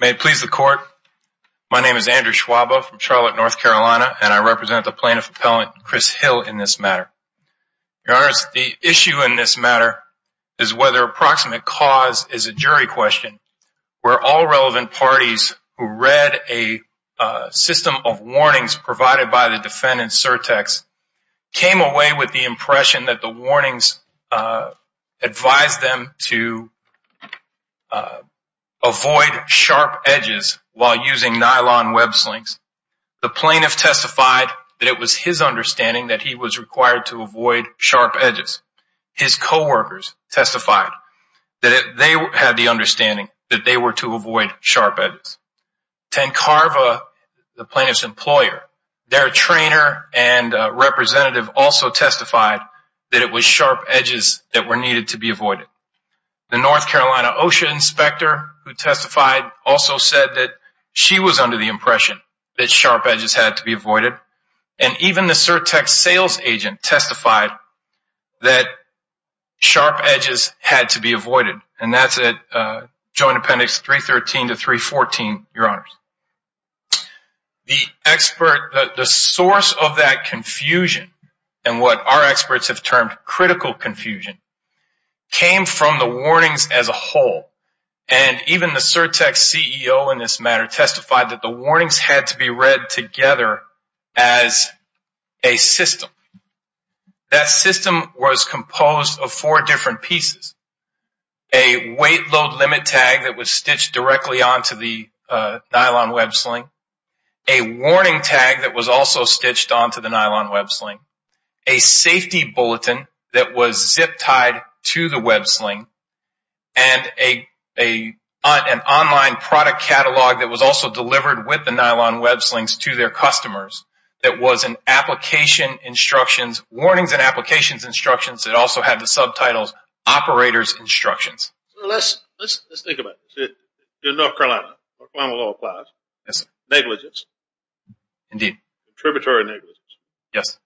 May it please the court, my name is Andrew Schwabe from Charlotte, North Carolina, and I represent the plaintiff appellant Chris Hill in this matter. Your honors, the issue in this matter is whether approximate cause is a jury question, where all relevant parties who read a system of warnings provided by the defendant, Certex, came away with the impression that the warnings advised them to avoid sharp edges while using nylon web slings. The plaintiff testified that it was his understanding that he was required to avoid sharp edges. His co-workers testified that they had the understanding that they were to avoid sharp edges. Tancarva, the plaintiff's employer, their trainer and representative also testified that it was sharp edges that were needed to be avoided. The North Carolina OSHA inspector who testified also said that she was under the impression that sharp edges had to be avoided. And even the Certex sales agent testified that sharp edges had to be avoided. And that's at joint appendix 313 to 314, your honors. The expert, the source of that confusion and what our experts have termed critical confusion came from the warnings as a whole. And even the Certex CEO in this matter testified that the warnings had to be read together as a system. That system was composed of four different pieces. A weight load limit tag that was stitched directly onto the nylon web sling. A warning tag that was also stitched onto the nylon web sling. A safety bulletin that was zip tied to the web sling. And an online product catalog that was also delivered with the nylon web slings to their customers that was an application instructions, it also had the subtitles operator's instructions. Let's think about this. The North Carolina law applies. Negligence. Indeed. Contributory negligence. Yes.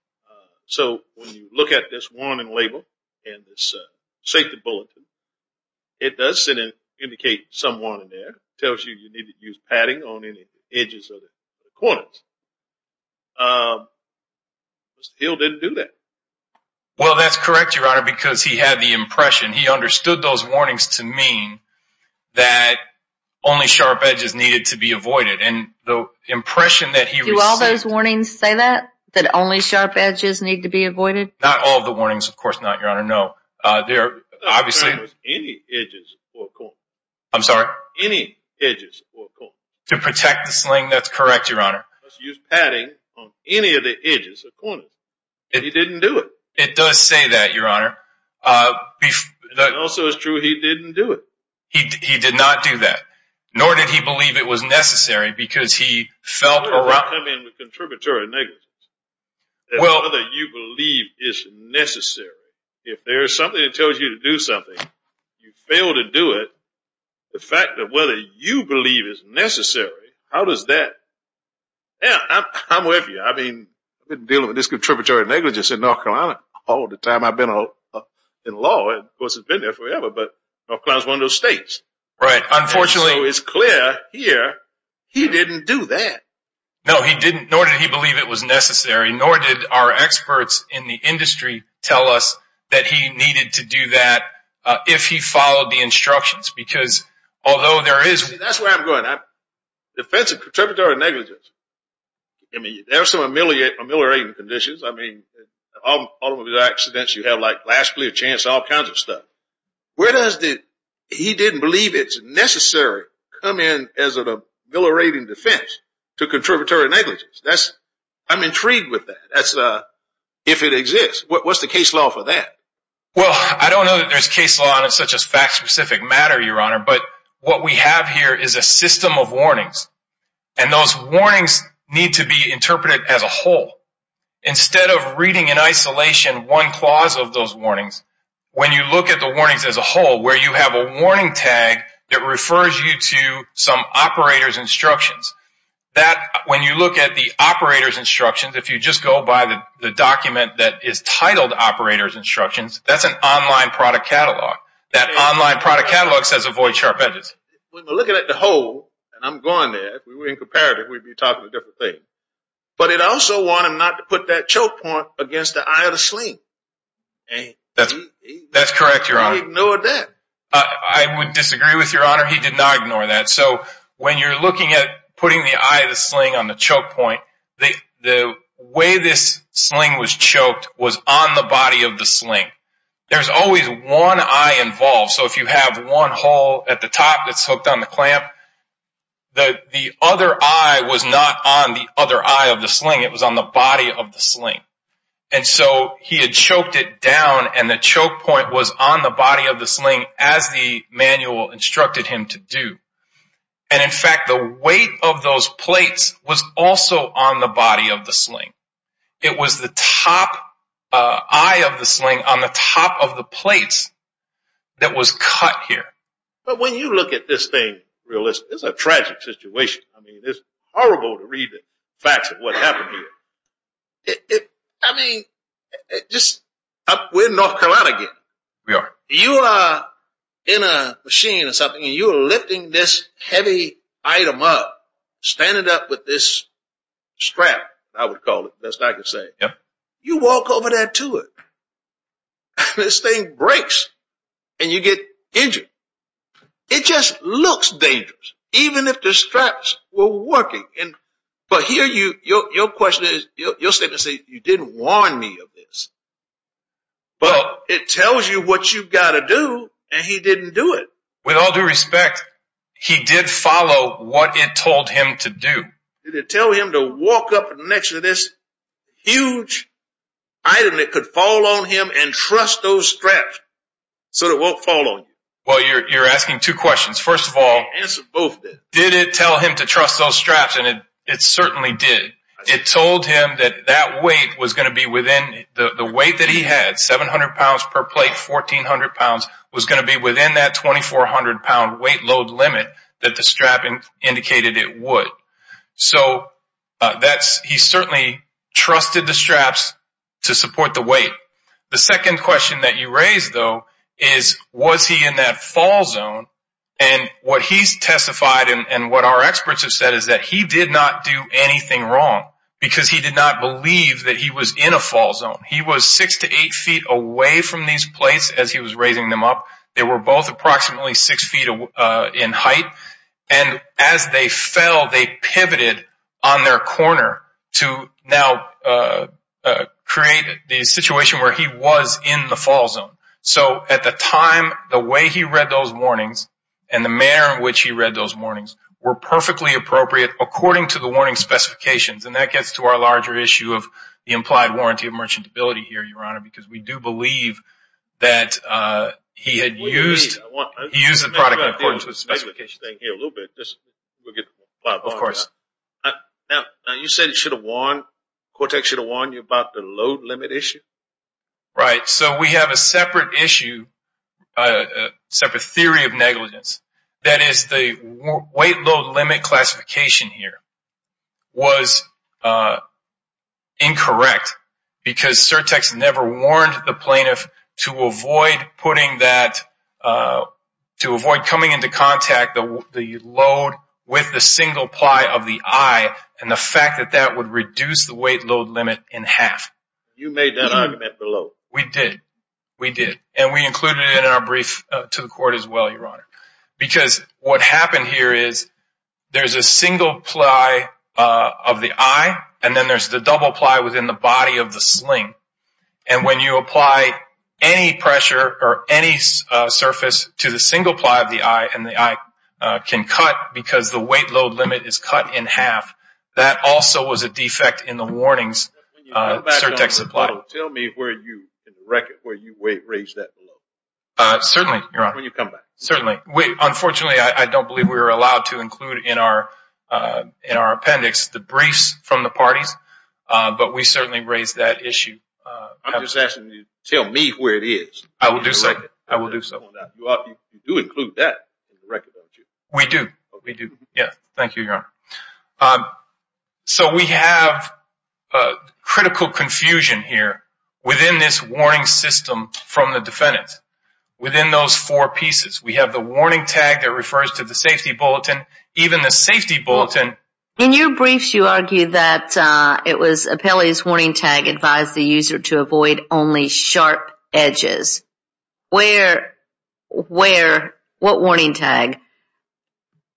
So, when you look at this warning label and this safety bulletin, it does indicate some warning there. It tells you you need to use padding on any edges or corners. Mr. Hill didn't do that. Well, that's correct, Your Honor, because he had the impression, he understood those warnings to mean that only sharp edges needed to be avoided. And the impression that he received. Do all those warnings say that? That only sharp edges need to be avoided? Not all of the warnings, of course not, Your Honor. No. Obviously. Any edges or corners. I'm sorry? Any edges or corners. To protect the sling, that's correct, Your Honor. He used padding on any of the edges or corners. He didn't do it. It does say that, Your Honor. And also it's true he didn't do it. He did not do that. Nor did he believe it was necessary, because he felt around... What do you mean with contributory negligence? Whether you believe it's necessary. If there's something that tells you to do something, you fail to do it, the fact that whether you believe it's necessary, how does that... Yeah, I'm with you. I've been dealing with this contributory negligence in North Carolina all the time. I've been in law. Of course, I've been there forever, but North Carolina is one of those states. Right. Unfortunately... So it's clear here, he didn't do that. No, he didn't. Nor did he believe it was necessary, nor did our experts in the industry tell us that he needed to do that if he followed the instructions, because although there is... That's where I'm going. Defensive contributory negligence. I mean, there are some ameliorating conditions. I mean, all of the accidents you have, like last clear chance, all kinds of stuff. Where does the... He didn't believe it's necessary come in as an ameliorating defense to contributory negligence. That's... I'm intrigued with that. That's... If it exists, what's the case law for that? Well, I don't know that there's case law on such a fact-specific matter, Your Honor, but what we have here is a system of warnings, and those warnings need to be interpreted as a whole. Instead of reading in isolation one clause of those warnings, when you look at the warnings as a whole, where you have a warning tag that refers you to some operator's instructions, that... When you look at the operator's instructions, if you just go by the document that is titled operator's instructions, that's an online product catalog. That online product catalog says avoid sharp edges. When we're looking at the whole, and I'm going there, if we were in comparative, we'd be talking a different thing. But it also wanted not to put that choke point against the eye of the sling. That's correct, Your Honor. He ignored that. I would disagree with Your Honor. He did not ignore that. So when you're looking at putting the eye of the sling on the choke point, the way this sling was choked was on the body of the sling. There's always one eye involved. So if you have one hole at the top that's hooked on the clamp, the other eye was not on the other eye of the sling. It was on the body of the sling. And so he had choked it down, and the choke point was on the body of the sling as the manual instructed him to do. And in fact, the weight of those plates was also on the body of the sling. It was the top eye of the sling on the top of the plates that was cut here. But when you look at this thing realistically, it's a tragic situation. I mean, it's horrible to read the facts of what happened here. I mean, we're in North Carolina again. We are. You are in a machine or something, and you are lifting this heavy item up, standing up with this strap, I would call it, best I could say. You walk over there to it, and this thing breaks, and you get injured. It just looks dangerous, even if the straps were working. But here, your question is, you'll say, you didn't warn me of this. But it tells you what you've got to do, and he didn't do it. With all due respect, he did follow what it told him to do. Did it tell him to walk up next to this huge item that could fall on him and trust those straps so it won't fall on you? Well, you're asking two questions. First of all, did it tell him to trust those straps? And it certainly did. It told him that the weight that he had, 700 pounds per plate, 1400 pounds, was going to be within that 2400 pound weight load limit that the strap indicated it would. So he certainly trusted the straps to support the weight. The second question that you raised, though, is, was he in that fall zone? And what he's testified, and what our experts have said, is that he did not do anything wrong, because he did not believe that he was in a fall zone. He was six to eight feet away from these plates as he was raising them up. They were both approximately six feet in height, and as they fell, they pivoted on their corner to now create the situation where he was in the fall zone. So at the time, the way he read those warnings, and the manner in which he read those warnings, were perfectly appropriate according to the warning specifications. And that gets to our larger issue of the implied warranty of merchantability here, Your Honor, because we do believe that he had used the product in accordance with specifications. I want to talk about the specification thing here a little bit. You said Cortex should have warned you about the load limit issue? Right. So we have a separate issue, a separate theory of negligence. That is, the weight load limit classification here was incorrect, because Cortex never warned the plaintiff to avoid putting that, to avoid coming into contact the load with the single ply of the eye, and the fact that that would reduce the weight load limit in half. You made that argument below. We did. We did. Because what happened here is, there's a single ply of the eye, and then there's the double ply within the body of the sling. And when you apply any pressure or any surface to the single ply of the eye, and the eye can cut because the weight load limit is cut in half, that also was a defect in the warnings Cortex applied. Tell me where you raised that below. Certainly, Your Honor. When you come back. Unfortunately, I don't believe we were allowed to include in our appendix the briefs from the parties, but we certainly raised that issue. I'm just asking you to tell me where it is. I will do so. You do include that in the record, don't you? We do. Thank you, Your Honor. So we have critical confusion here within this warning system from the defendant. Within those four pieces, we have the warning tag that refers to the safety bulletin, even the safety bulletin. In your briefs, you argue that it was Appellee's warning tag advised the user to avoid only sharp edges. Where, where, what warning tag?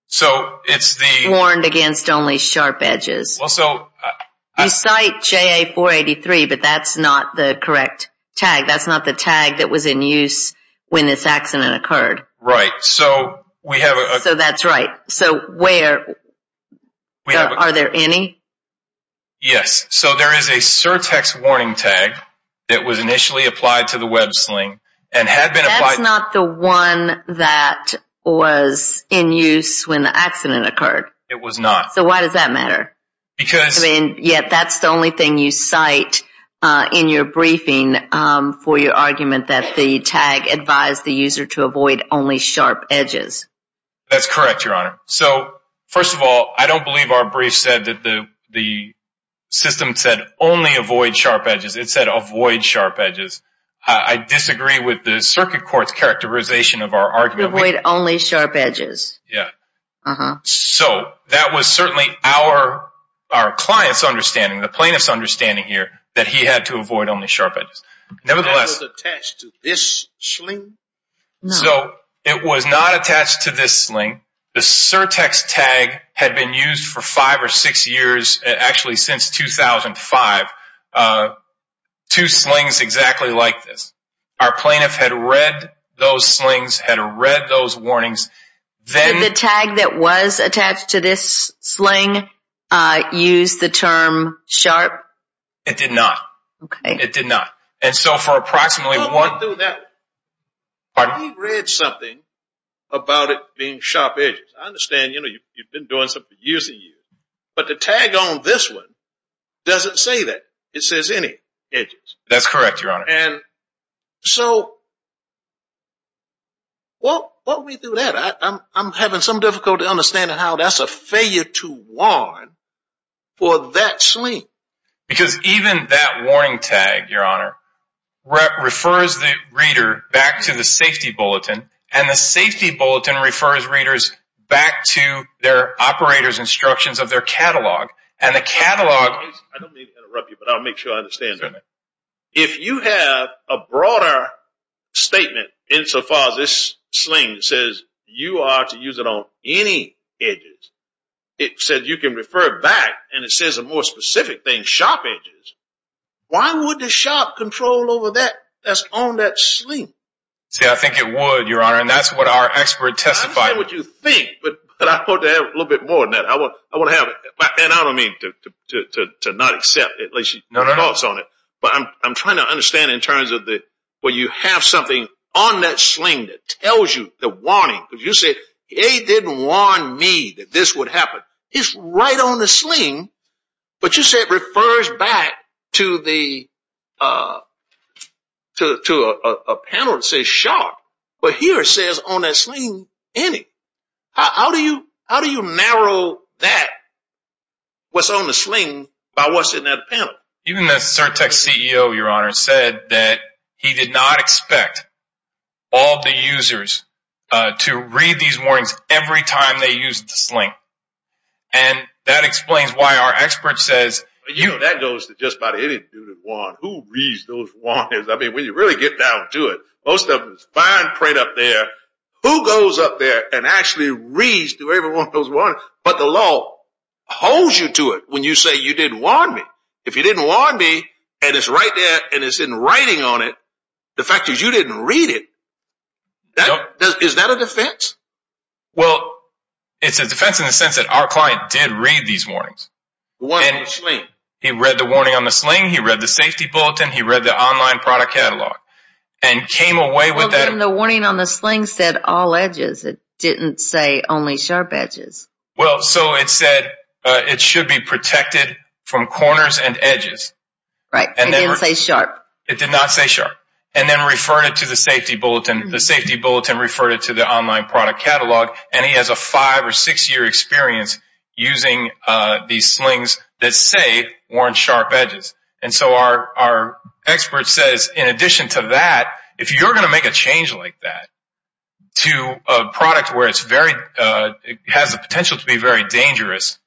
So it's the... Warned against only sharp edges. Well, so... You cite JA-483, but that's not the correct tag. That's not the tag that was in use when this accident occurred. Right. So we have... So that's right. So where, are there any? Yes. So there is a surtex warning tag that was initially applied to the web sling and had been... That's not the one that was in use when the accident occurred. It was not. So why does that matter? Because... Yet that's the only thing you cite in your briefing for your argument that the tag advised the user to avoid only sharp edges. That's correct, Your Honor. So first of all, I don't believe our brief said that the system said only avoid sharp edges. It said avoid sharp edges. I disagree with the circuit court's characterization of our argument. Avoid only sharp edges. Yeah. So that was certainly our client's understanding, the plaintiff's understanding here, that he had to avoid only sharp edges. Nevertheless... That was attached to this sling? So it was not attached to this sling. The surtex tag had been used for five or six years, actually since 2005, two slings exactly like this. Our plaintiff had read those slings, had read those warnings. Then... The tag that was attached to this sling used the term sharp? It did not. It did not. And so for approximately one... What do that... Pardon? He read something about it being sharp edges. I understand you've been doing something for years and years, but the tag on this one doesn't say that. It says any edges. That's correct, Your Honor. And so what went through that? I'm having some difficulty understanding how that's a failure to warn for that sling. Because even that warning tag, Your Honor, refers the reader back to the safety bulletin, and the safety bulletin refers readers back to their operator's instructions of their catalog. And the catalog... I don't mean to interrupt you, but I'll make sure I understand that. If you have a broader statement insofar as this sling says you are to use it on any edges, it says you can refer back, and it says a more specific thing, sharp edges. Why would the shop control over that? That's on that sling. See, I think it would, Your Honor, and that's what our expert testified. I don't know what you think, but I'd like to have a little bit more than that. I want to have... And I don't mean to not accept, at least she talks on it. I'm trying to understand in terms of the... When you have something on that sling that tells you the warning, but you say, it didn't warn me that this would happen. It's right on the sling, but you said it refers back to a panel that says sharp. But here it says on that sling, any. How do you narrow that? What's on the sling by what's in that panel? Even the CertTech CEO, Your Honor, said that he did not expect all the users to read these warnings every time they used the sling. And that explains why our expert says... You know, that goes to just about any dude that warns. Who reads those warnings? I mean, when you really get down to it, most of it is fine print up there. Who goes up there and actually reads to everyone those warnings? But the law holds you to it when you say you didn't warn me. If you didn't warn me and it's right there and it's in writing on it, the fact that you didn't read it, is that a defense? Well, it's a defense in the sense that our client did read these warnings. He read the warning on the sling. He read the safety bulletin. He read the online product catalog and came away with that. The warning on the sling said all edges. It didn't say only sharp edges. Well, so it said it should be protected from corners and edges. Right. It didn't say sharp. It did not say sharp. And then referred it to the safety bulletin. The safety bulletin referred it to the online product catalog. And he has a five or six year experience using these slings that say warn sharp edges. And so our expert says, in addition to that, if you're going to make a change like that to a product where it's very... to be very dangerous,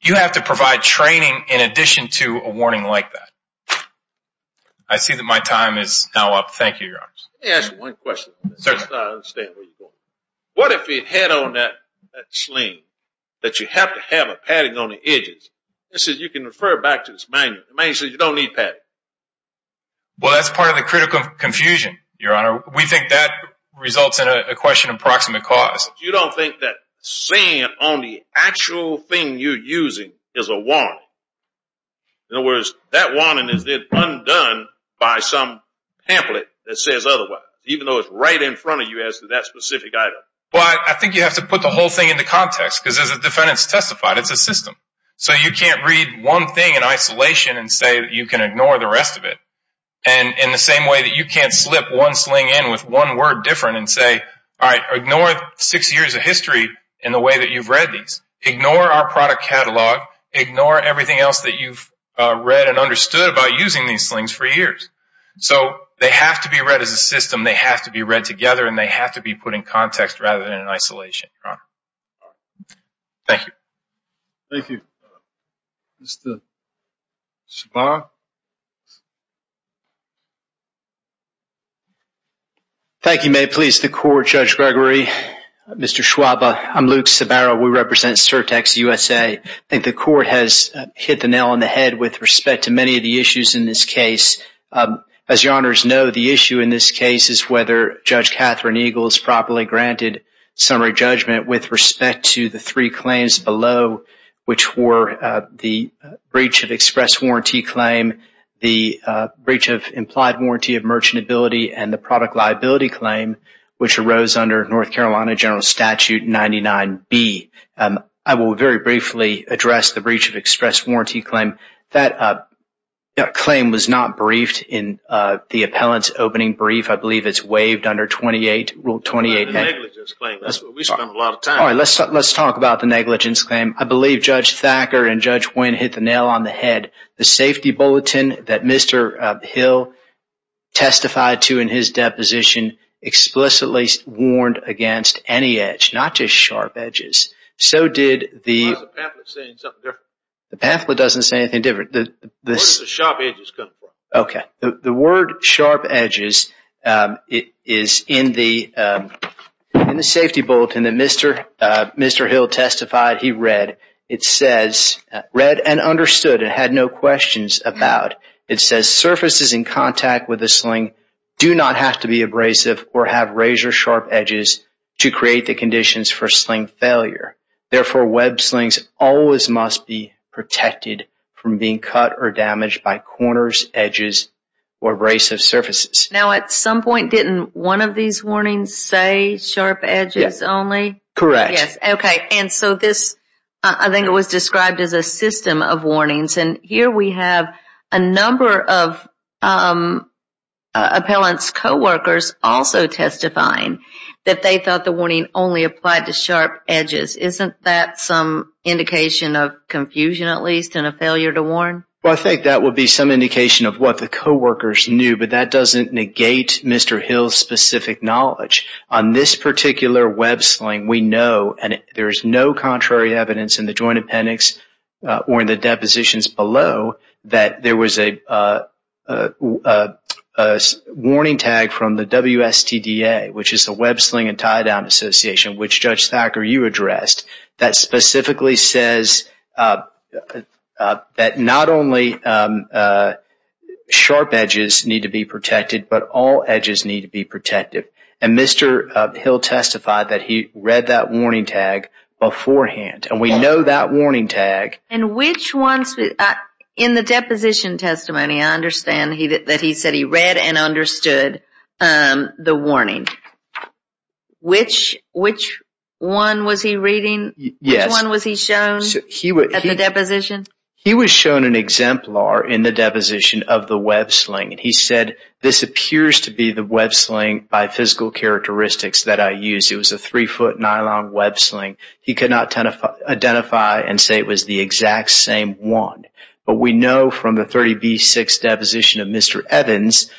you have to provide training in addition to a warning like that. I see that my time is now up. Thank you, Your Honor. Let me ask you one question. What if he had on that sling that you have to have a padding on the edges? It says you can refer back to this manual. The manual says you don't need padding. Well, that's part of the critical confusion, Your Honor. We think that results in a question of proximate cause. You don't think that saying on the actual thing you're using is a warning. In other words, that warning is then undone by some pamphlet that says otherwise, even though it's right in front of you as to that specific item. Well, I think you have to put the whole thing into context, because as the defendant's testified, it's a system. So you can't read one thing in isolation and say that you can ignore the rest of it. And in the same way that you can't slip one sling in with one word different and say, all right, ignore six years of history in the way that you've read these. Ignore our product catalog. Ignore everything else that you've read and understood about using these slings for years. So they have to be read as a system. They have to be read together. And they have to be put in context rather than in isolation, Your Honor. Thank you. Thank you. Mr. Shabar? Thank you, Mayor. The court, Judge Gregory, Mr. Shwaba, I'm Luke Shabara. We represent Certex USA. I think the court has hit the nail on the head with respect to many of the issues in this case. As Your Honors know, the issue in this case is whether Judge Catherine Eagles properly granted summary judgment with respect to the three claims below, which were the breach of express warranty claim, the breach of implied warranty of merchantability, and the product liability claim, which arose under North Carolina General Statute 99B. I will very briefly address the breach of express warranty claim. That claim was not briefed in the appellant's opening brief. I believe it's waived under 28, Rule 28. The negligence claim. We spent a lot of time. All right, let's talk about the negligence claim. I believe Judge Thacker and Judge Wynn hit the nail on the head. The safety bulletin that Mr. Hill testified to in his deposition explicitly warned against any edge, not just sharp edges. So did the... Why is the pamphlet saying something different? The pamphlet doesn't say anything different. Where does the sharp edges come from? Okay, the word sharp edges is in the safety bulletin that Mr. Hill testified he read. It says, read and understood. It had no questions about. It says surfaces in contact with the sling do not have to be abrasive or have razor sharp edges to create the conditions for sling failure. Therefore, web slings always must be protected from being cut or damaged by corners, edges, or abrasive surfaces. Now at some point, didn't one of these warnings say sharp edges only? Correct. And so this, I think it was described as a system of warnings. And here we have a number of appellant's co-workers also testifying that they thought the warning only applied to sharp edges. Isn't that some indication of confusion at least and a failure to warn? Well, I think that would be some indication of what the co-workers knew, but that doesn't negate Mr. Hill's specific knowledge. On this particular web sling, we know and there is no contrary evidence in the joint appendix or in the depositions below that there was a warning tag from the WSTDA, which is the Web Sling and Tie Down Association, which Judge Thacker, you addressed, that specifically says that not only sharp edges need to be protected, but all edges need to be protected. And Mr. Hill testified that he read that warning tag beforehand. And we know that warning tag. And which ones, in the deposition testimony, I understand that he said he read and understood the warning. Which one was he reading? Yes. Which one was he shown at the deposition? He was shown an exemplar in the deposition of the web sling. He said, this appears to be the web sling by physical characteristics that I used. It was a three-foot nylon web sling. He could not identify and say it was the exact same one. But we know from the 30B6 deposition of Mr. Evans,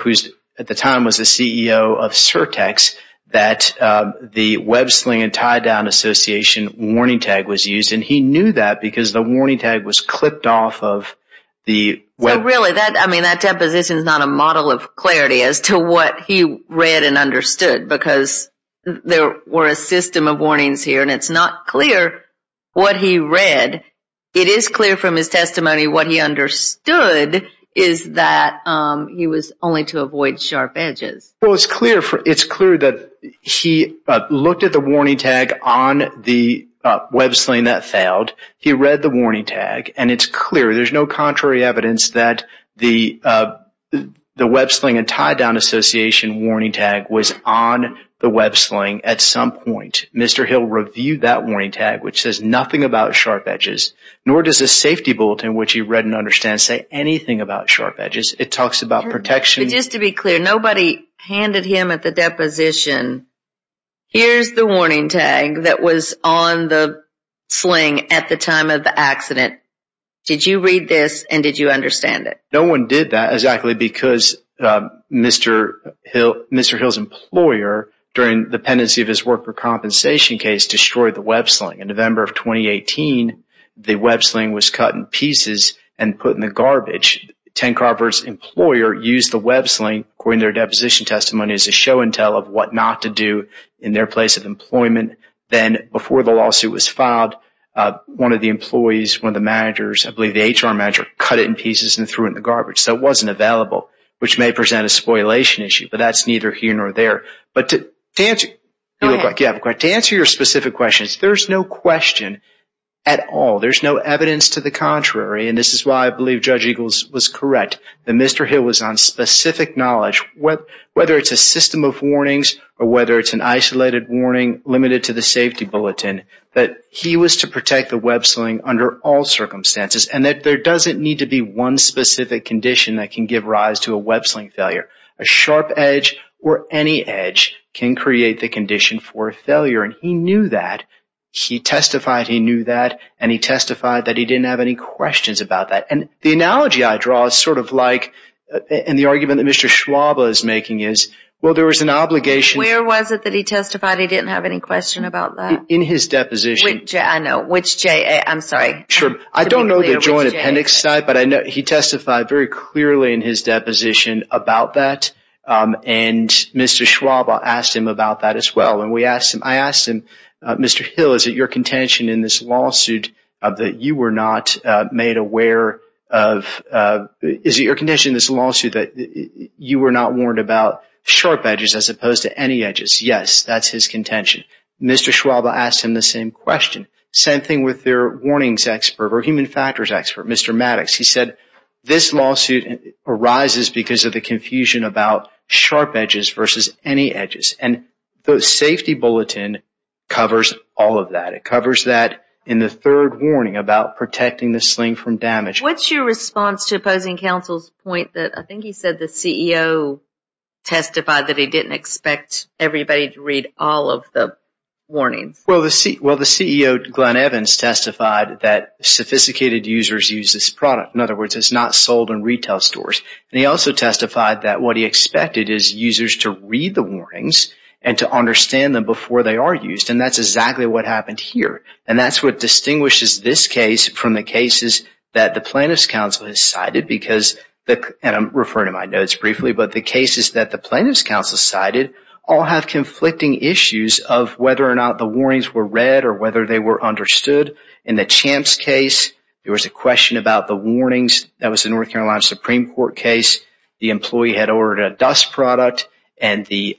who at the time was the CEO of Surtex, that the Web Sling and Tie Down Association warning tag was used. And he knew that because the warning tag was clipped off of the web. Really, that deposition is not a model of clarity as to what he read and understood. Because there were a system of warnings here. And it's not clear what he read. It is clear from his testimony what he understood is that he was only to avoid sharp edges. Well, it's clear that he looked at the warning tag on the web sling that failed. He read the warning tag. And it's clear. There's no contrary evidence that the Web Sling and Tie Down Association warning tag was on the web sling at some point. Mr. Hill reviewed that warning tag, which says nothing about sharp edges. Nor does the safety bulletin, which he read and understands, say anything about sharp edges. It talks about protection. But just to be clear, nobody handed him at the deposition, Here's the warning tag that was on the sling at the time of the accident. Did you read this? And did you understand it? No one did that. Exactly. Because Mr. Hill's employer, during the pendency of his work for compensation case, destroyed the web sling. In November of 2018, the web sling was cut in pieces and put in the garbage. 10 Carver's employer used the web sling, according to their deposition testimony, as a show-and-tell of what not to do in their place of employment. Then, before the lawsuit was filed, one of the employees, one of the managers, I believe the HR manager, cut it in pieces and threw it in the garbage. So it wasn't available, which may present a spoilation issue. But that's neither here nor there. But to answer your specific questions, there's no question at all. There's no evidence to the contrary. And this is why I believe Judge Eagles was correct. That Mr. Hill was on specific knowledge, whether it's a system of warnings, or whether it's an isolated warning limited to the safety bulletin, that he was to protect the web sling under all circumstances. And that there doesn't need to be one specific condition that can give rise to a web sling failure. A sharp edge or any edge can create the condition for failure. And he knew that. He testified he knew that. And he testified that he didn't have any questions about that. And the analogy I draw is sort of like, and the argument that Mr. Schwab is making is, well, there was an obligation. Where was it that he testified he didn't have any question about that? In his deposition. I know, which J, I'm sorry. Sure, I don't know the Joint Appendix site, but I know he testified very clearly in his deposition about that. And Mr. Schwab asked him about that as well. And I asked him, Mr. Hill, is it your contention in this lawsuit that you were not made aware of, is it your contention in this lawsuit that you were not warned about sharp edges as opposed to any edges? Yes, that's his contention. Mr. Schwab asked him the same question. Same thing with their warnings expert or human factors expert, Mr. Maddox. He said this lawsuit arises because of the confusion about sharp edges versus any edges. And the safety bulletin covers all of that. It covers that in the third warning about protecting the sling from damage. What's your response to opposing counsel's point that, I think he said the CEO testified that he didn't expect everybody to read all of the warnings? Well, the CEO, Glenn Evans, testified that sophisticated users use this product. In other words, it's not sold in retail stores. And he also testified that what he expected is users to read the warnings and to understand them before they are used. And that's exactly what happened here. And that's what distinguishes this case from the cases that the plaintiff's counsel has cited. Because, and I'm referring to my notes briefly, but the cases that the plaintiff's counsel cited all have conflicting issues of whether or not the warnings were read or whether they were understood. In the Champ's case, there was a question about the warnings. That was the North Carolina Supreme Court case. The employee had ordered a dust product and the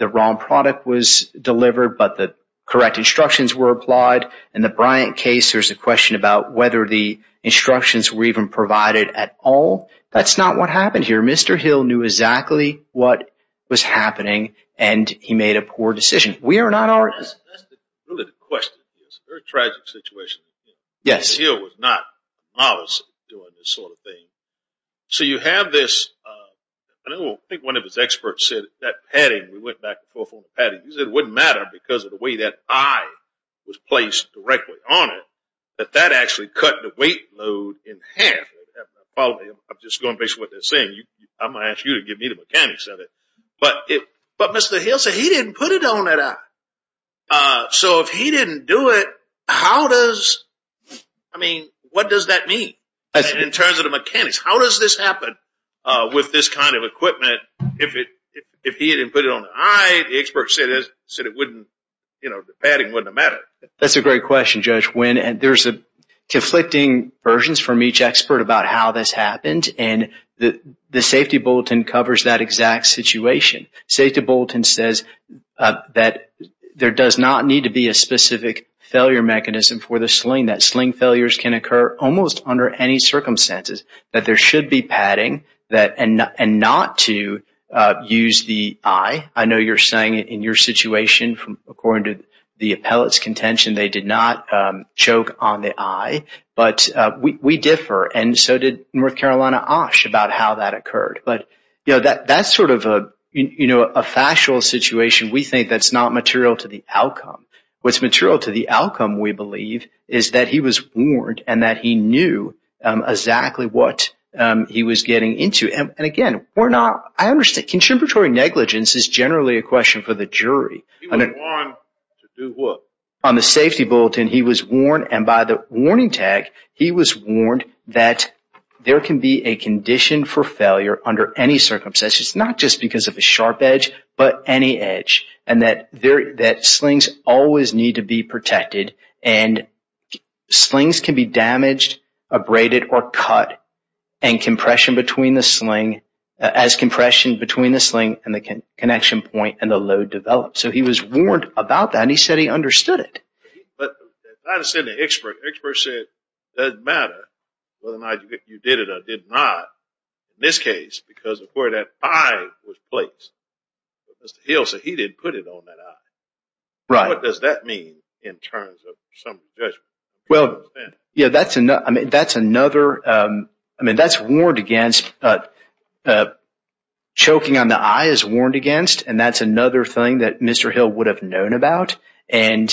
wrong product was delivered. But the correct instructions were applied. In the Bryant case, there's a question about whether the instructions were even provided at all. That's not what happened here. Mr. Hill knew exactly what was happening. And he made a poor decision. We are not our... That's really the question. It's a very tragic situation. Yes. Mr. Hill was not, obviously, doing this sort of thing. we went back and forth on the padding. It wouldn't matter because of the way that eye was placed directly on it, that that actually cut the weight load in half. I'm just going based on what they're saying. I'm going to ask you to give me the mechanics of it. But Mr. Hill said he didn't put it on that eye. So if he didn't do it, how does... I mean, what does that mean in terms of the mechanics? How does this happen with this kind of equipment if he didn't put it on the eye? The expert said it wouldn't, you know, the padding wouldn't matter. That's a great question, Judge Wynn. There's conflicting versions from each expert about how this happened. And the safety bulletin covers that exact situation. Safety bulletin says that there does not need to be a specific failure mechanism for the sling. That sling failures can occur almost under any circumstances. That there should be padding and not to use the eye. I know you're saying in your situation, according to the appellate's contention, they did not choke on the eye, but we differ. And so did North Carolina Osh about how that occurred. But, you know, that's sort of a, you know, a factual situation. We think that's not material to the outcome. What's material to the outcome, we believe, is that he was warned and that he knew exactly what he was getting into. And again, we're not... Contributory negligence is generally a question for the jury. He was warned to do what? On the safety bulletin, he was warned, and by the warning tag, he was warned that there can be a condition for failure under any circumstances. Not just because of a sharp edge, but any edge. And that slings always need to be protected. And slings can be damaged, abraded, or cut. And compression between the sling... As compression between the sling and the connection point and the load develops. So he was warned about that, and he said he understood it. But as I understand it, the expert said it doesn't matter whether or not you did it or did not in this case, because of where that eye was placed. But Mr. Hill said he didn't put it on that eye. Right. What does that mean in terms of some judgment? Well, yeah, that's another... I mean, that's warned against... Choking on the eye is warned against, and that's another thing that Mr. Hill would have known about and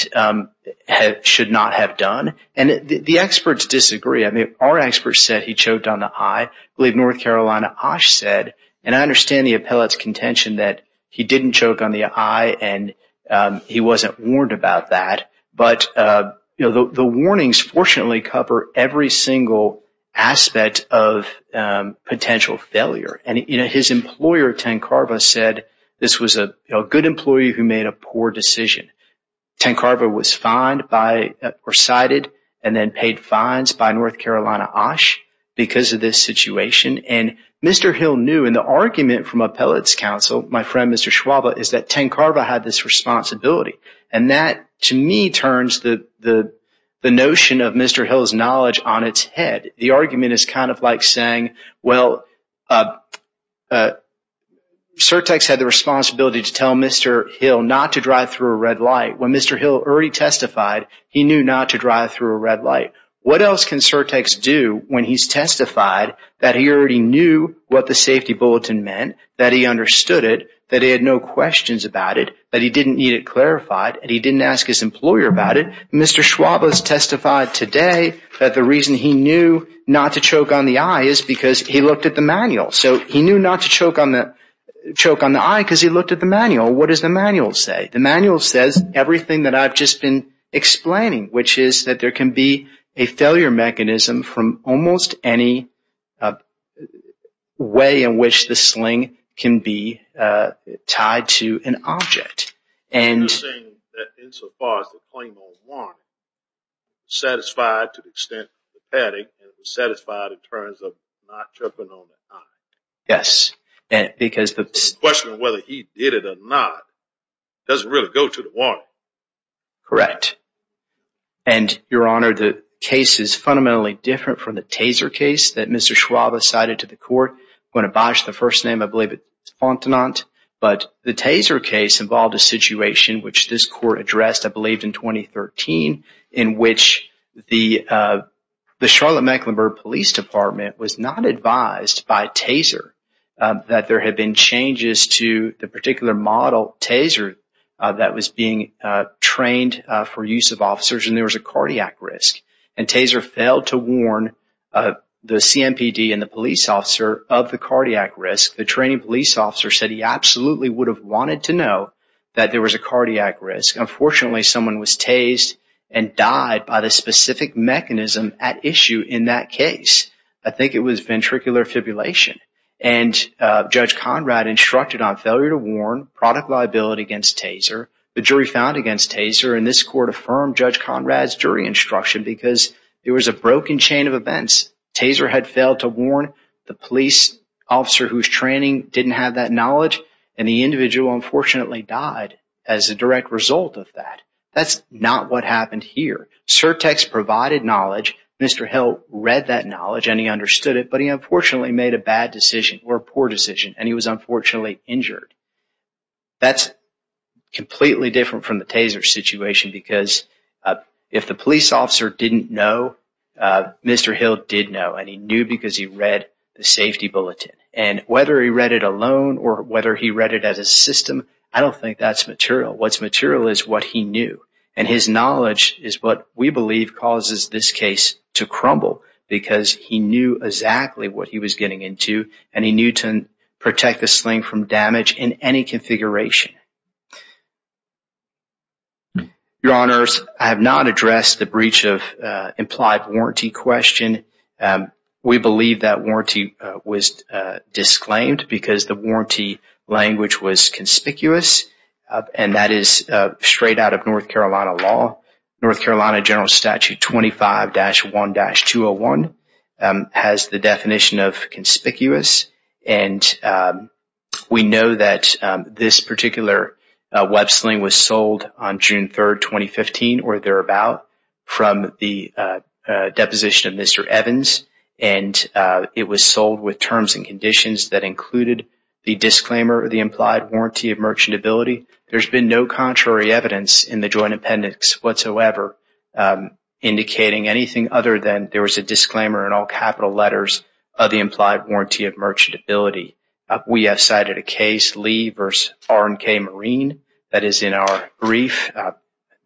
should not have done. And the experts disagree. I mean, our experts said he choked on the eye. I believe North Carolina OSH said, and I understand the appellate's contention that he didn't choke on the eye and he wasn't warned about that. But the warnings, fortunately, cover every single aspect of potential failure. And his employer, Tancarva, said this was a good employee who made a poor decision. Tancarva was fined or cited and then paid fines by North Carolina OSH because of this situation. And Mr. Hill knew. And the argument from appellate's counsel, my friend, Mr. Schwaba, is that Tancarva had this responsibility. And that, to me, turns the notion of Mr. Hill's knowledge on its head. The argument is kind of like saying, well, Surtex had the responsibility to tell Mr. Hill not to drive through a red light. When Mr. Hill already testified, he knew not to drive through a red light. What else can Surtex do when he's testified that he already knew what the safety bulletin meant, that he understood it, that he had no questions about it, that he didn't need it clarified, and he didn't ask his employer about it? Mr. Schwaba has testified today that the reason he knew not to choke on the eye is because he looked at the manual. So he knew not to choke on the eye because he looked at the manual. What does the manual say? The manual says everything that I've just been explaining, which is that there can be a failure mechanism from almost any way in which the sling can be tied to an object. You're saying that insofar as the plain old warrant satisfied to the extent of the padding, it was satisfied in terms of not choking on the eye. Yes. Because the question of whether he did it or not doesn't really go to the warrant. Correct. And, Your Honor, the case is fundamentally different from the Taser case that Mr. Schwaba cited to the court when it biased the first name, I believe it's Fontenot. But the Taser case involved a situation which this court addressed, I believe, in 2013, in which the Charlotte-Mecklenburg Police Department was not advised by Taser that there had been changes to the particular model, Taser, that was being trained for use of officers, and there was a cardiac risk. And Taser failed to warn the CMPD and the police officer of the cardiac risk. The training police officer said he absolutely would have wanted to know that there was a cardiac risk. Unfortunately, someone was tased and died by the specific mechanism at issue in that case. I think it was ventricular fibrillation. And Judge Conrad instructed on failure to warn, product liability against Taser. The jury found against Taser, because there was a broken chain of events. Taser had failed to warn the police officer whose training didn't have that knowledge, and the individual unfortunately died as a direct result of that. That's not what happened here. Surtex provided knowledge, Mr. Hill read that knowledge and he understood it, but he unfortunately made a bad decision or a poor decision, and he was unfortunately injured. That's completely different from the Taser situation because if the police officer didn't know, Mr. Hill did know and he knew because he read the safety bulletin. And whether he read it alone or whether he read it as a system, I don't think that's material. What's material is what he knew. And his knowledge is what we believe causes this case to crumble because he knew exactly what he was getting into and he knew to protect the sling from damage in any configuration. Your honors, I have not addressed the breach of implied warranty question. We believe that warranty was disclaimed because the warranty language was conspicuous and that is straight out of North Carolina law. North Carolina General Statute 25-1-201 has the definition of conspicuous. And we know that this particular web sling was sold on June 3, 2015 or thereabout from the deposition of Mr. Evans. And it was sold with terms and conditions that included the disclaimer of the implied warranty of merchantability. There's been no contrary evidence in the Joint Appendix whatsoever indicating anything other than there was a disclaimer in all capital letters of the implied warranty of merchantability. We have cited a case, Lee v. R&K Marine, that is in our brief,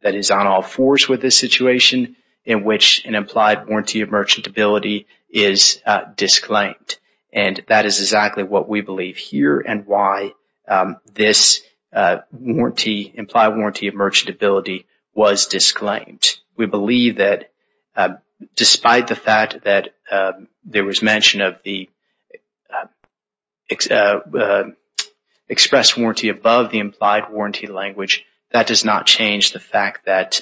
that is on all fours with this situation in which an implied warranty of merchantability is disclaimed. And that is exactly what we believe here and why this warranty, implied warranty of merchantability was disclaimed. We believe that despite the fact that there was mention of the express warranty above the implied warranty language, that does not change the fact that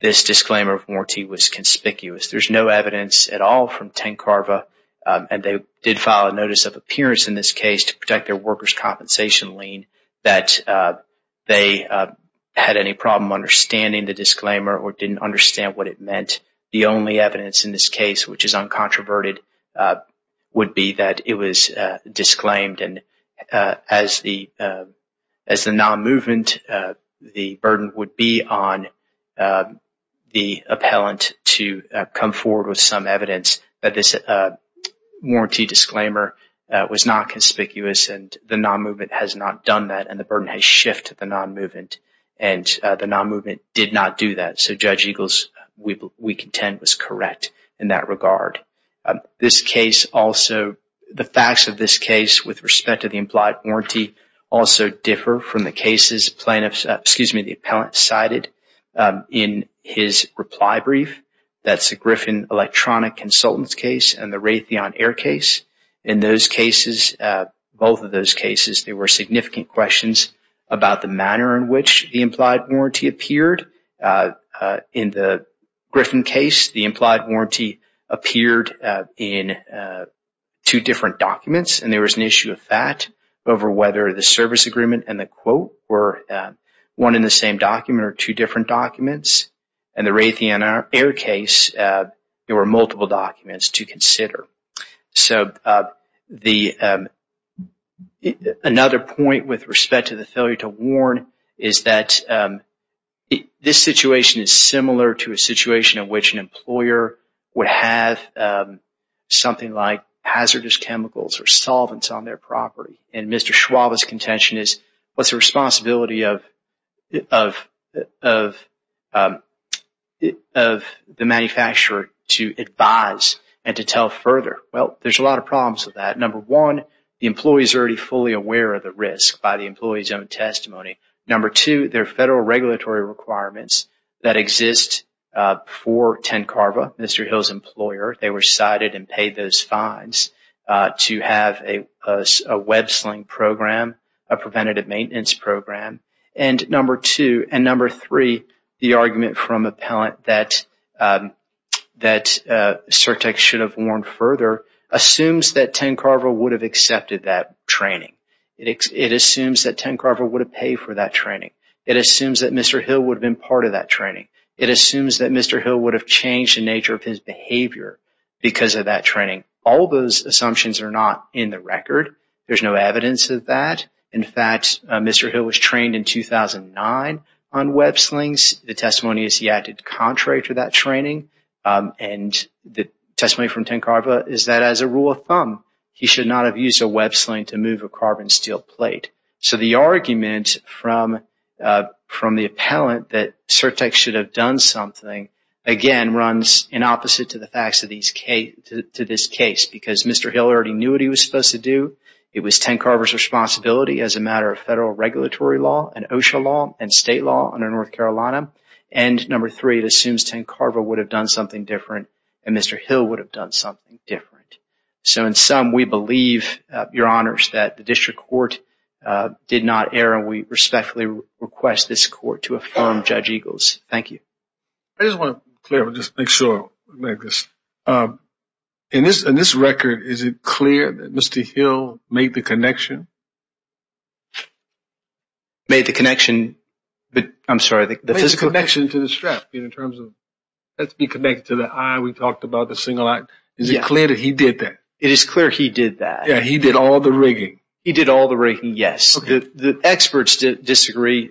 this disclaimer of warranty was conspicuous. There's no evidence at all from Ten Carva. And they did file a notice of appearance in this case to protect their workers' compensation lien that they had any problem understanding the disclaimer or didn't understand what it meant. The only evidence in this case, which is uncontroverted, would be that it was disclaimed. And as the non-movement, the burden would be on the appellant to come forward with some evidence that this warranty disclaimer was not conspicuous and the non-movement has not done that and the burden has shifted to the non-movement. And the non-movement did not do that. So Judge Eagles, we contend, was correct in that regard. This case also, the facts of this case with respect to the implied warranty also differ from the cases plaintiffs, excuse me, the appellant cited in his reply brief. That's the Griffin Electronic Consultants case and the Raytheon Air case. In those cases, both of those cases, there were significant questions about the manner in which the implied warranty appeared. In the Griffin case, the implied warranty appeared in two different documents and there was an issue of that over whether the service agreement and the quote were one in the same document or two different documents. And the Raytheon Air case, there were multiple documents to consider. So another point with respect to the failure to warn is that this situation is similar to a situation in which an employer would have something like hazardous chemicals or solvents on their property. And Mr. Schwab's contention is, what's the responsibility of the manufacturer to advise and to tell further? Well, there's a lot of problems with that. Number one, the employee is already fully aware of the risk by the employee's own testimony. Number two, there are federal regulatory requirements that exist for TenCarva, Mr. Hill's employer. They were cited and paid those fines to have a web sling program, a preventative maintenance program. And number two and number three, the argument from appellant that CERTEC should have warned further assumes that TenCarva would have accepted that training. It assumes that TenCarva would have paid for that training. It assumes that Mr. Hill would have been part of that training. It assumes that Mr. Hill would have changed the nature of his behavior because of that training. All those assumptions are not in the record. There's no evidence of that. In fact, Mr. Hill was trained in 2009 on web slings. The testimony is he acted contrary to that training. And the testimony from TenCarva is that as a rule of thumb, he should not have used a web sling to move a carbon steel plate. So the argument from the appellant that CERTEC should have done something, again, runs in opposite to the facts of this case because Mr. Hill already knew what he was supposed to do. It was TenCarva's responsibility as a matter of federal regulatory law and OSHA law and state law under North Carolina. And number three, it assumes TenCarva would have done something different and Mr. Hill would have done something different. So in sum, we believe, Your Honors, that the district court did not err and we respectfully request this court to affirm Judge Eagles. Thank you. I just want to make sure I make this. In this record, is it clear that Mr. Hill made the connection? Made the connection? I'm sorry, the physical connection to the strap in terms of let's be connected to the eye. We talked about the single eye. Is it clear that he did that? It is clear he did that. He did all the rigging. He did all the rigging, yes. The experts disagree,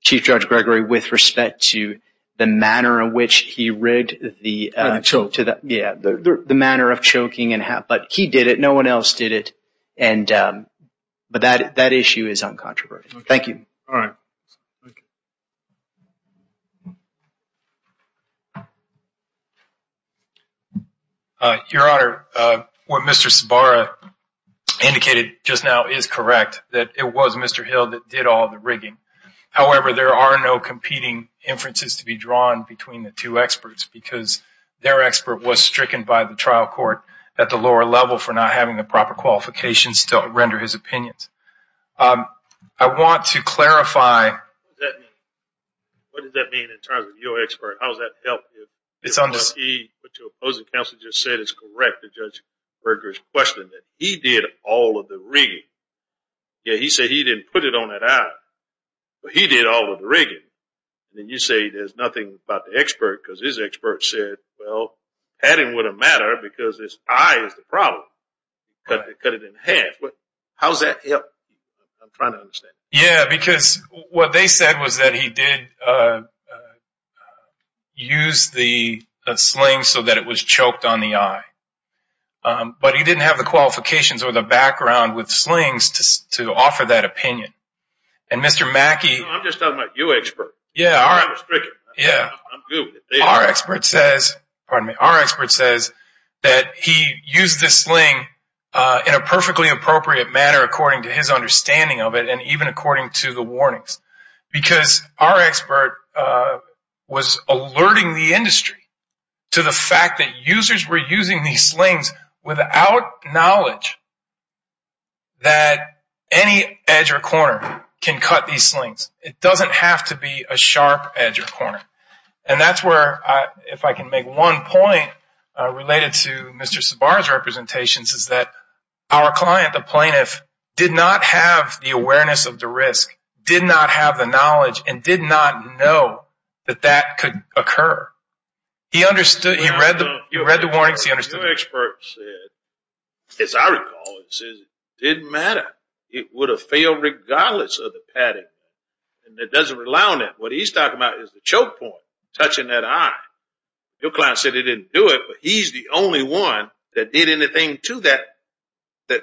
Chief Judge Gregory, with respect to the manner in which he rigged the... And the choke. Yeah, the manner of choking and how... But he did it. No one else did it. But that issue is uncontroversial. Thank you. All right. Thank you. Your Honor, what Mr. Sabara indicated just now is correct, that it was Mr. Hill that did all the rigging. However, there are no competing inferences to be drawn between the two experts because their expert was stricken by the trial court at the lower level for not having the proper qualifications to render his opinions. I want to clarify... What does that mean in terms of your expert? How does that help you? It's on the... What your opposing counsel just said is correct, the Judge Berger's question, that he did all of the rigging. Yeah, he said he didn't put it on that eye, but he did all of the rigging. Then you say there's nothing about the expert because his expert said, well, padding wouldn't matter because this eye is the problem. Cut it in half. How's that help? I'm trying to understand. Yeah, because what they said was that he did use the sling so that it was choked on the eye, but he didn't have the qualifications or the background with slings to offer that opinion. And Mr. Mackey... I'm just talking about your expert. Yeah, all right. I'm not stricken. Yeah. Our expert says... Pardon me. Our expert says that he used the sling in a perfectly appropriate manner according to his understanding of it and even according to the warnings because our expert was alerting the industry to the fact that users were using these slings without knowledge that any edge or corner can cut these slings. It doesn't have to be a sharp edge or corner. And that's where, if I can make one point related to Mr. Sabar's representations, our client, the plaintiff, did not have the awareness of the risk, did not have the knowledge, and did not know that that could occur. He understood. He read the warnings. He understood. Your expert said, as I recall, it says it didn't matter. It would have failed regardless of the padding. And it doesn't rely on that. What he's talking about is the choke point, touching that eye. Your client said he didn't do it, he's the only one that did anything to that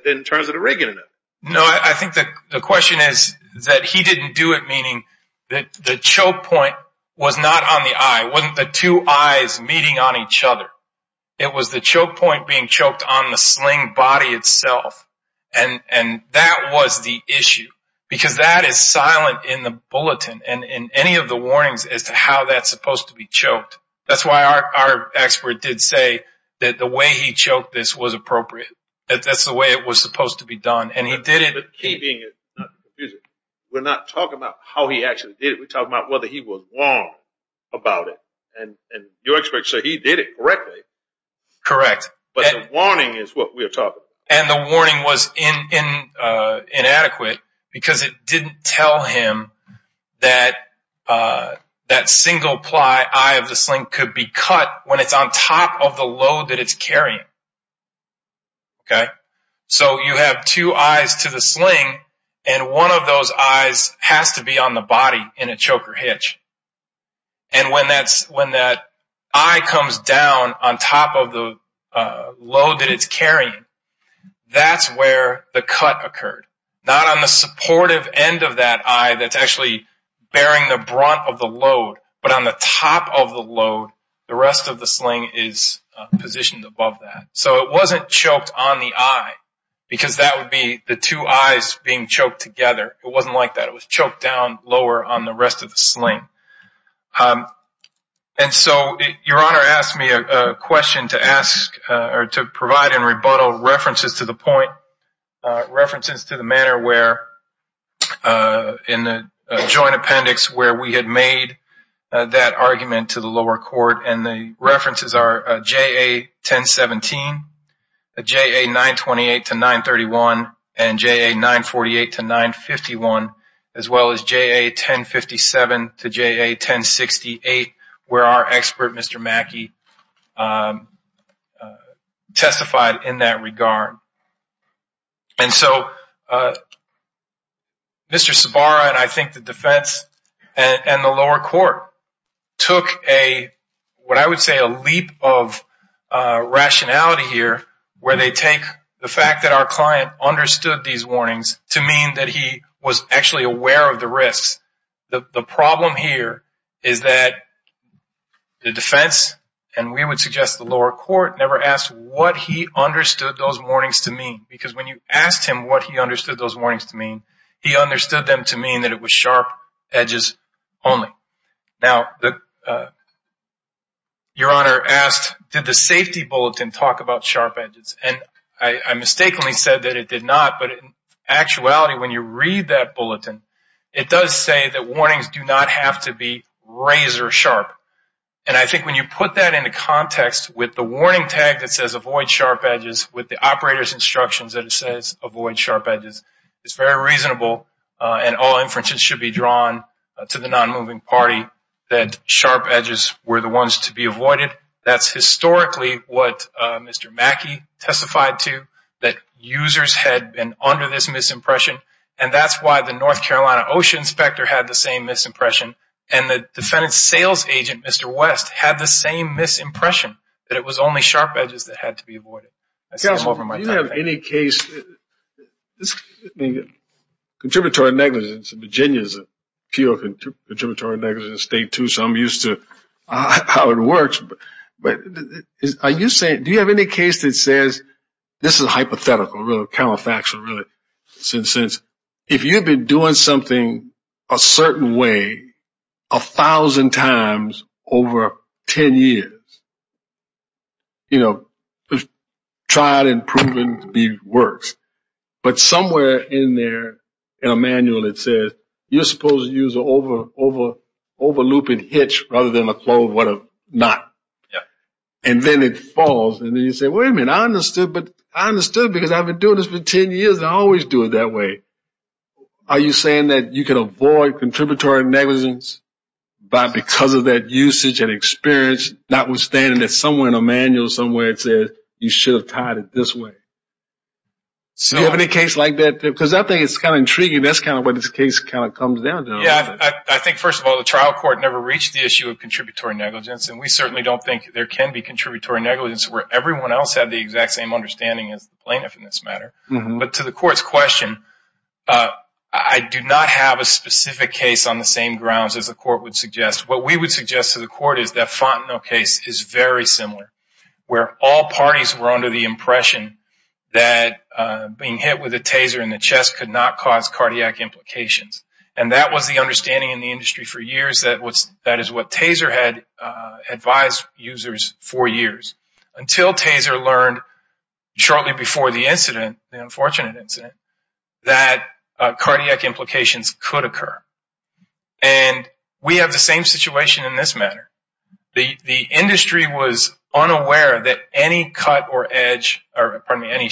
in terms of the rigging of it. No, I think the question is that he didn't do it, meaning that the choke point was not on the eye, wasn't the two eyes meeting on each other. It was the choke point being choked on the sling body itself. And that was the issue because that is silent in the bulletin and in any of the warnings as to how that's supposed to be choked. That's why our expert did say that the way he choked this was appropriate. That that's the way it was supposed to be done. And he did it. The key being, we're not talking about how he actually did it. We're talking about whether he was wrong about it. And your expert said he did it correctly. Correct. But the warning is what we're talking about. And the warning was inadequate because it didn't tell him that that single-ply eye of the sling could be cut when it's on top of the load that it's carrying. OK, so you have two eyes to the sling and one of those eyes has to be on the body in a choker hitch. And when that eye comes down on top of the load that it's carrying, that's where the cut occurred, not on the supportive end of that eye that's actually bearing the brunt of the load. But on the top of the load, the rest of the sling is positioned above that. So it wasn't choked on the eye because that would be the two eyes being choked together. It wasn't like that. It was choked down lower on the rest of the sling. And so your honor asked me a question to ask or to provide in rebuttal references to the point, references to the manner where in the joint appendix, where we had made that argument to the lower court and the references are JA-1017, JA-928 to 931, and JA-948 to 951, as well as JA-1057 to JA-1068, where our expert, Mr. Mackey, testified in that regard. And so Mr. Sabara and I think the defense and the lower court took a, what I would say a leap of rationality here where they take the fact that our client understood these warnings to mean that he was actually aware of the risks. The problem here is that the defense and we would suggest the lower court never asked what he understood those warnings to mean, because when you asked him what he understood those warnings to mean, he understood them to mean that it was sharp edges only. Now, your honor asked, did the safety bulletin talk about sharp edges? And I mistakenly said that it did not, but in actuality, when you read that bulletin, it does say that warnings do not have to be razor sharp. And I think when you put that into context with the warning tag that says avoid sharp edges, with the operator's instructions that it says avoid sharp edges, it's very reasonable and all inferences should be drawn to the non-moving party that sharp edges were the ones to be avoided. That's historically what Mr. Mackey testified to, that users had been under this misimpression. And that's why the North Carolina ocean inspector had the same misimpression. And the defendant's sales agent, Mr. West, had the same misimpression that it was only sharp edges that had to be avoided. I see him over my top head. Counselor, do you have any case, contributory negligence, Virginia is a pure contributory negligence state too, so I'm used to how it works, but are you saying, do you have any case that says, this is hypothetical, really counterfactual, really, since if you've been doing something a certain way a thousand times over 10 years, tried and proven to be worse, but somewhere in there in a manual, it says you're supposed to use an over looping hitch rather than a closed knot. And then it falls and then you say, wait a minute, I understood, but I understood because I've been doing this for 10 years and I always do it that way. Are you saying that you can avoid contributory negligence because of that usage and experience, notwithstanding that somewhere in a manual, somewhere it says you should have tied it this way. So do you have any case like that? Because I think it's kind of intriguing. That's kind of what this case kind of comes down to. Yeah, I think first of all, the trial court never reached the issue of contributory negligence and we certainly don't think there can be contributory negligence where everyone else had the exact same understanding as the plaintiff in this matter. But to the court's question, I do not have a specific case on the same grounds as the court would suggest. What we would suggest to the court is that Fontenot case is very similar where all parties were under the impression that being hit with a taser in the chest could not cause cardiac implications. And that was the understanding in the industry for years that is what taser had advised users for years until taser learned shortly before the incident, the unfortunate incident, that cardiac implications could occur. And we have the same situation in this matter. The industry was unaware that any cut or edge, or pardon me, any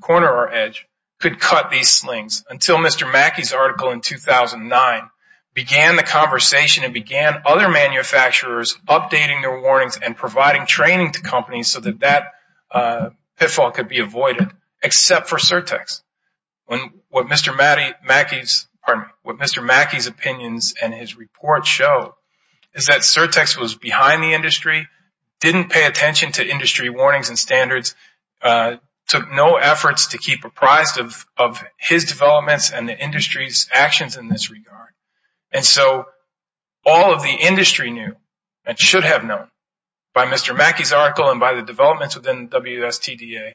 corner or edge could cut these slings until Mr. Mackey's article in 2009 began the conversation and began other manufacturers updating their warnings and providing training to companies so that that pitfall could be avoided, except for Surtex. When what Mr. Mackey's, pardon me, what Mr. Mackey's opinions and his report show is that Surtex was behind the industry, didn't pay attention to industry warnings and standards, took no efforts to keep apprised of his developments and the industry's actions in this regard. And so all of the industry knew and should have known by Mr. Mackey's article and by the developments within WSTDA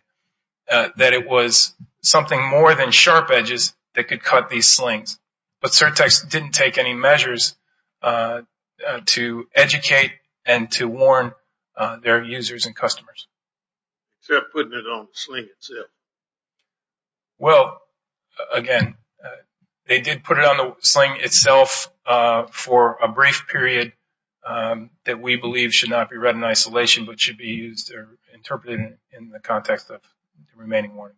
that it was something more than sharp edges that could cut these slings. But Surtex didn't take any measures to educate and to warn their users and customers. They're putting it on the sling itself. Well, again, they did put it on the sling itself for a brief period but should be used or interpreted in the context of the remaining warnings.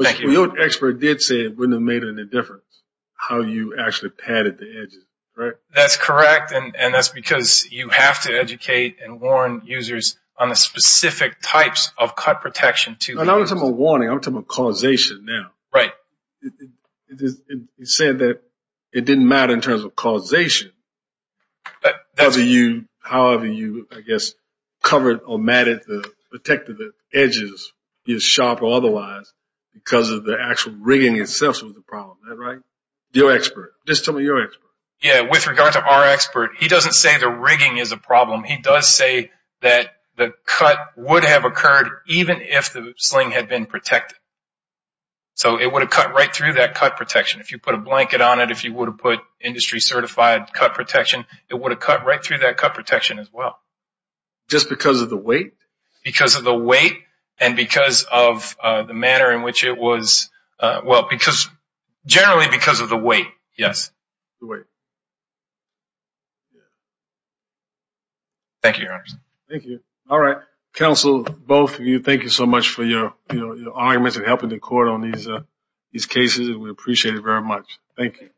Thank you. But your expert did say it wouldn't have made any difference how you actually padded the edges, right? That's correct. And that's because you have to educate and warn users on the specific types of cut protection to- And I'm not talking about warning, I'm talking about causation now. Right. You said that it didn't matter in terms of causation, but however you, I guess, covered or matted, the protective edges is sharp or otherwise because of the actual rigging itself was the problem. Is that right? Your expert, just tell me your expert. Yeah, with regard to our expert, he doesn't say the rigging is a problem. He does say that the cut would have occurred even if the sling had been protected. So it would have cut right through that cut protection. If you put a blanket on it, if you would have put industry certified cut protection, it would have cut right through that cut protection as well. Just because of the weight? Because of the weight and because of the manner in which it was, well, because, generally because of the weight, yes. Thank you, Your Honor. Thank you. All right, counsel, both of you, thank you so much for your arguments and helping the court on these cases. And we appreciate it very much. Thank you.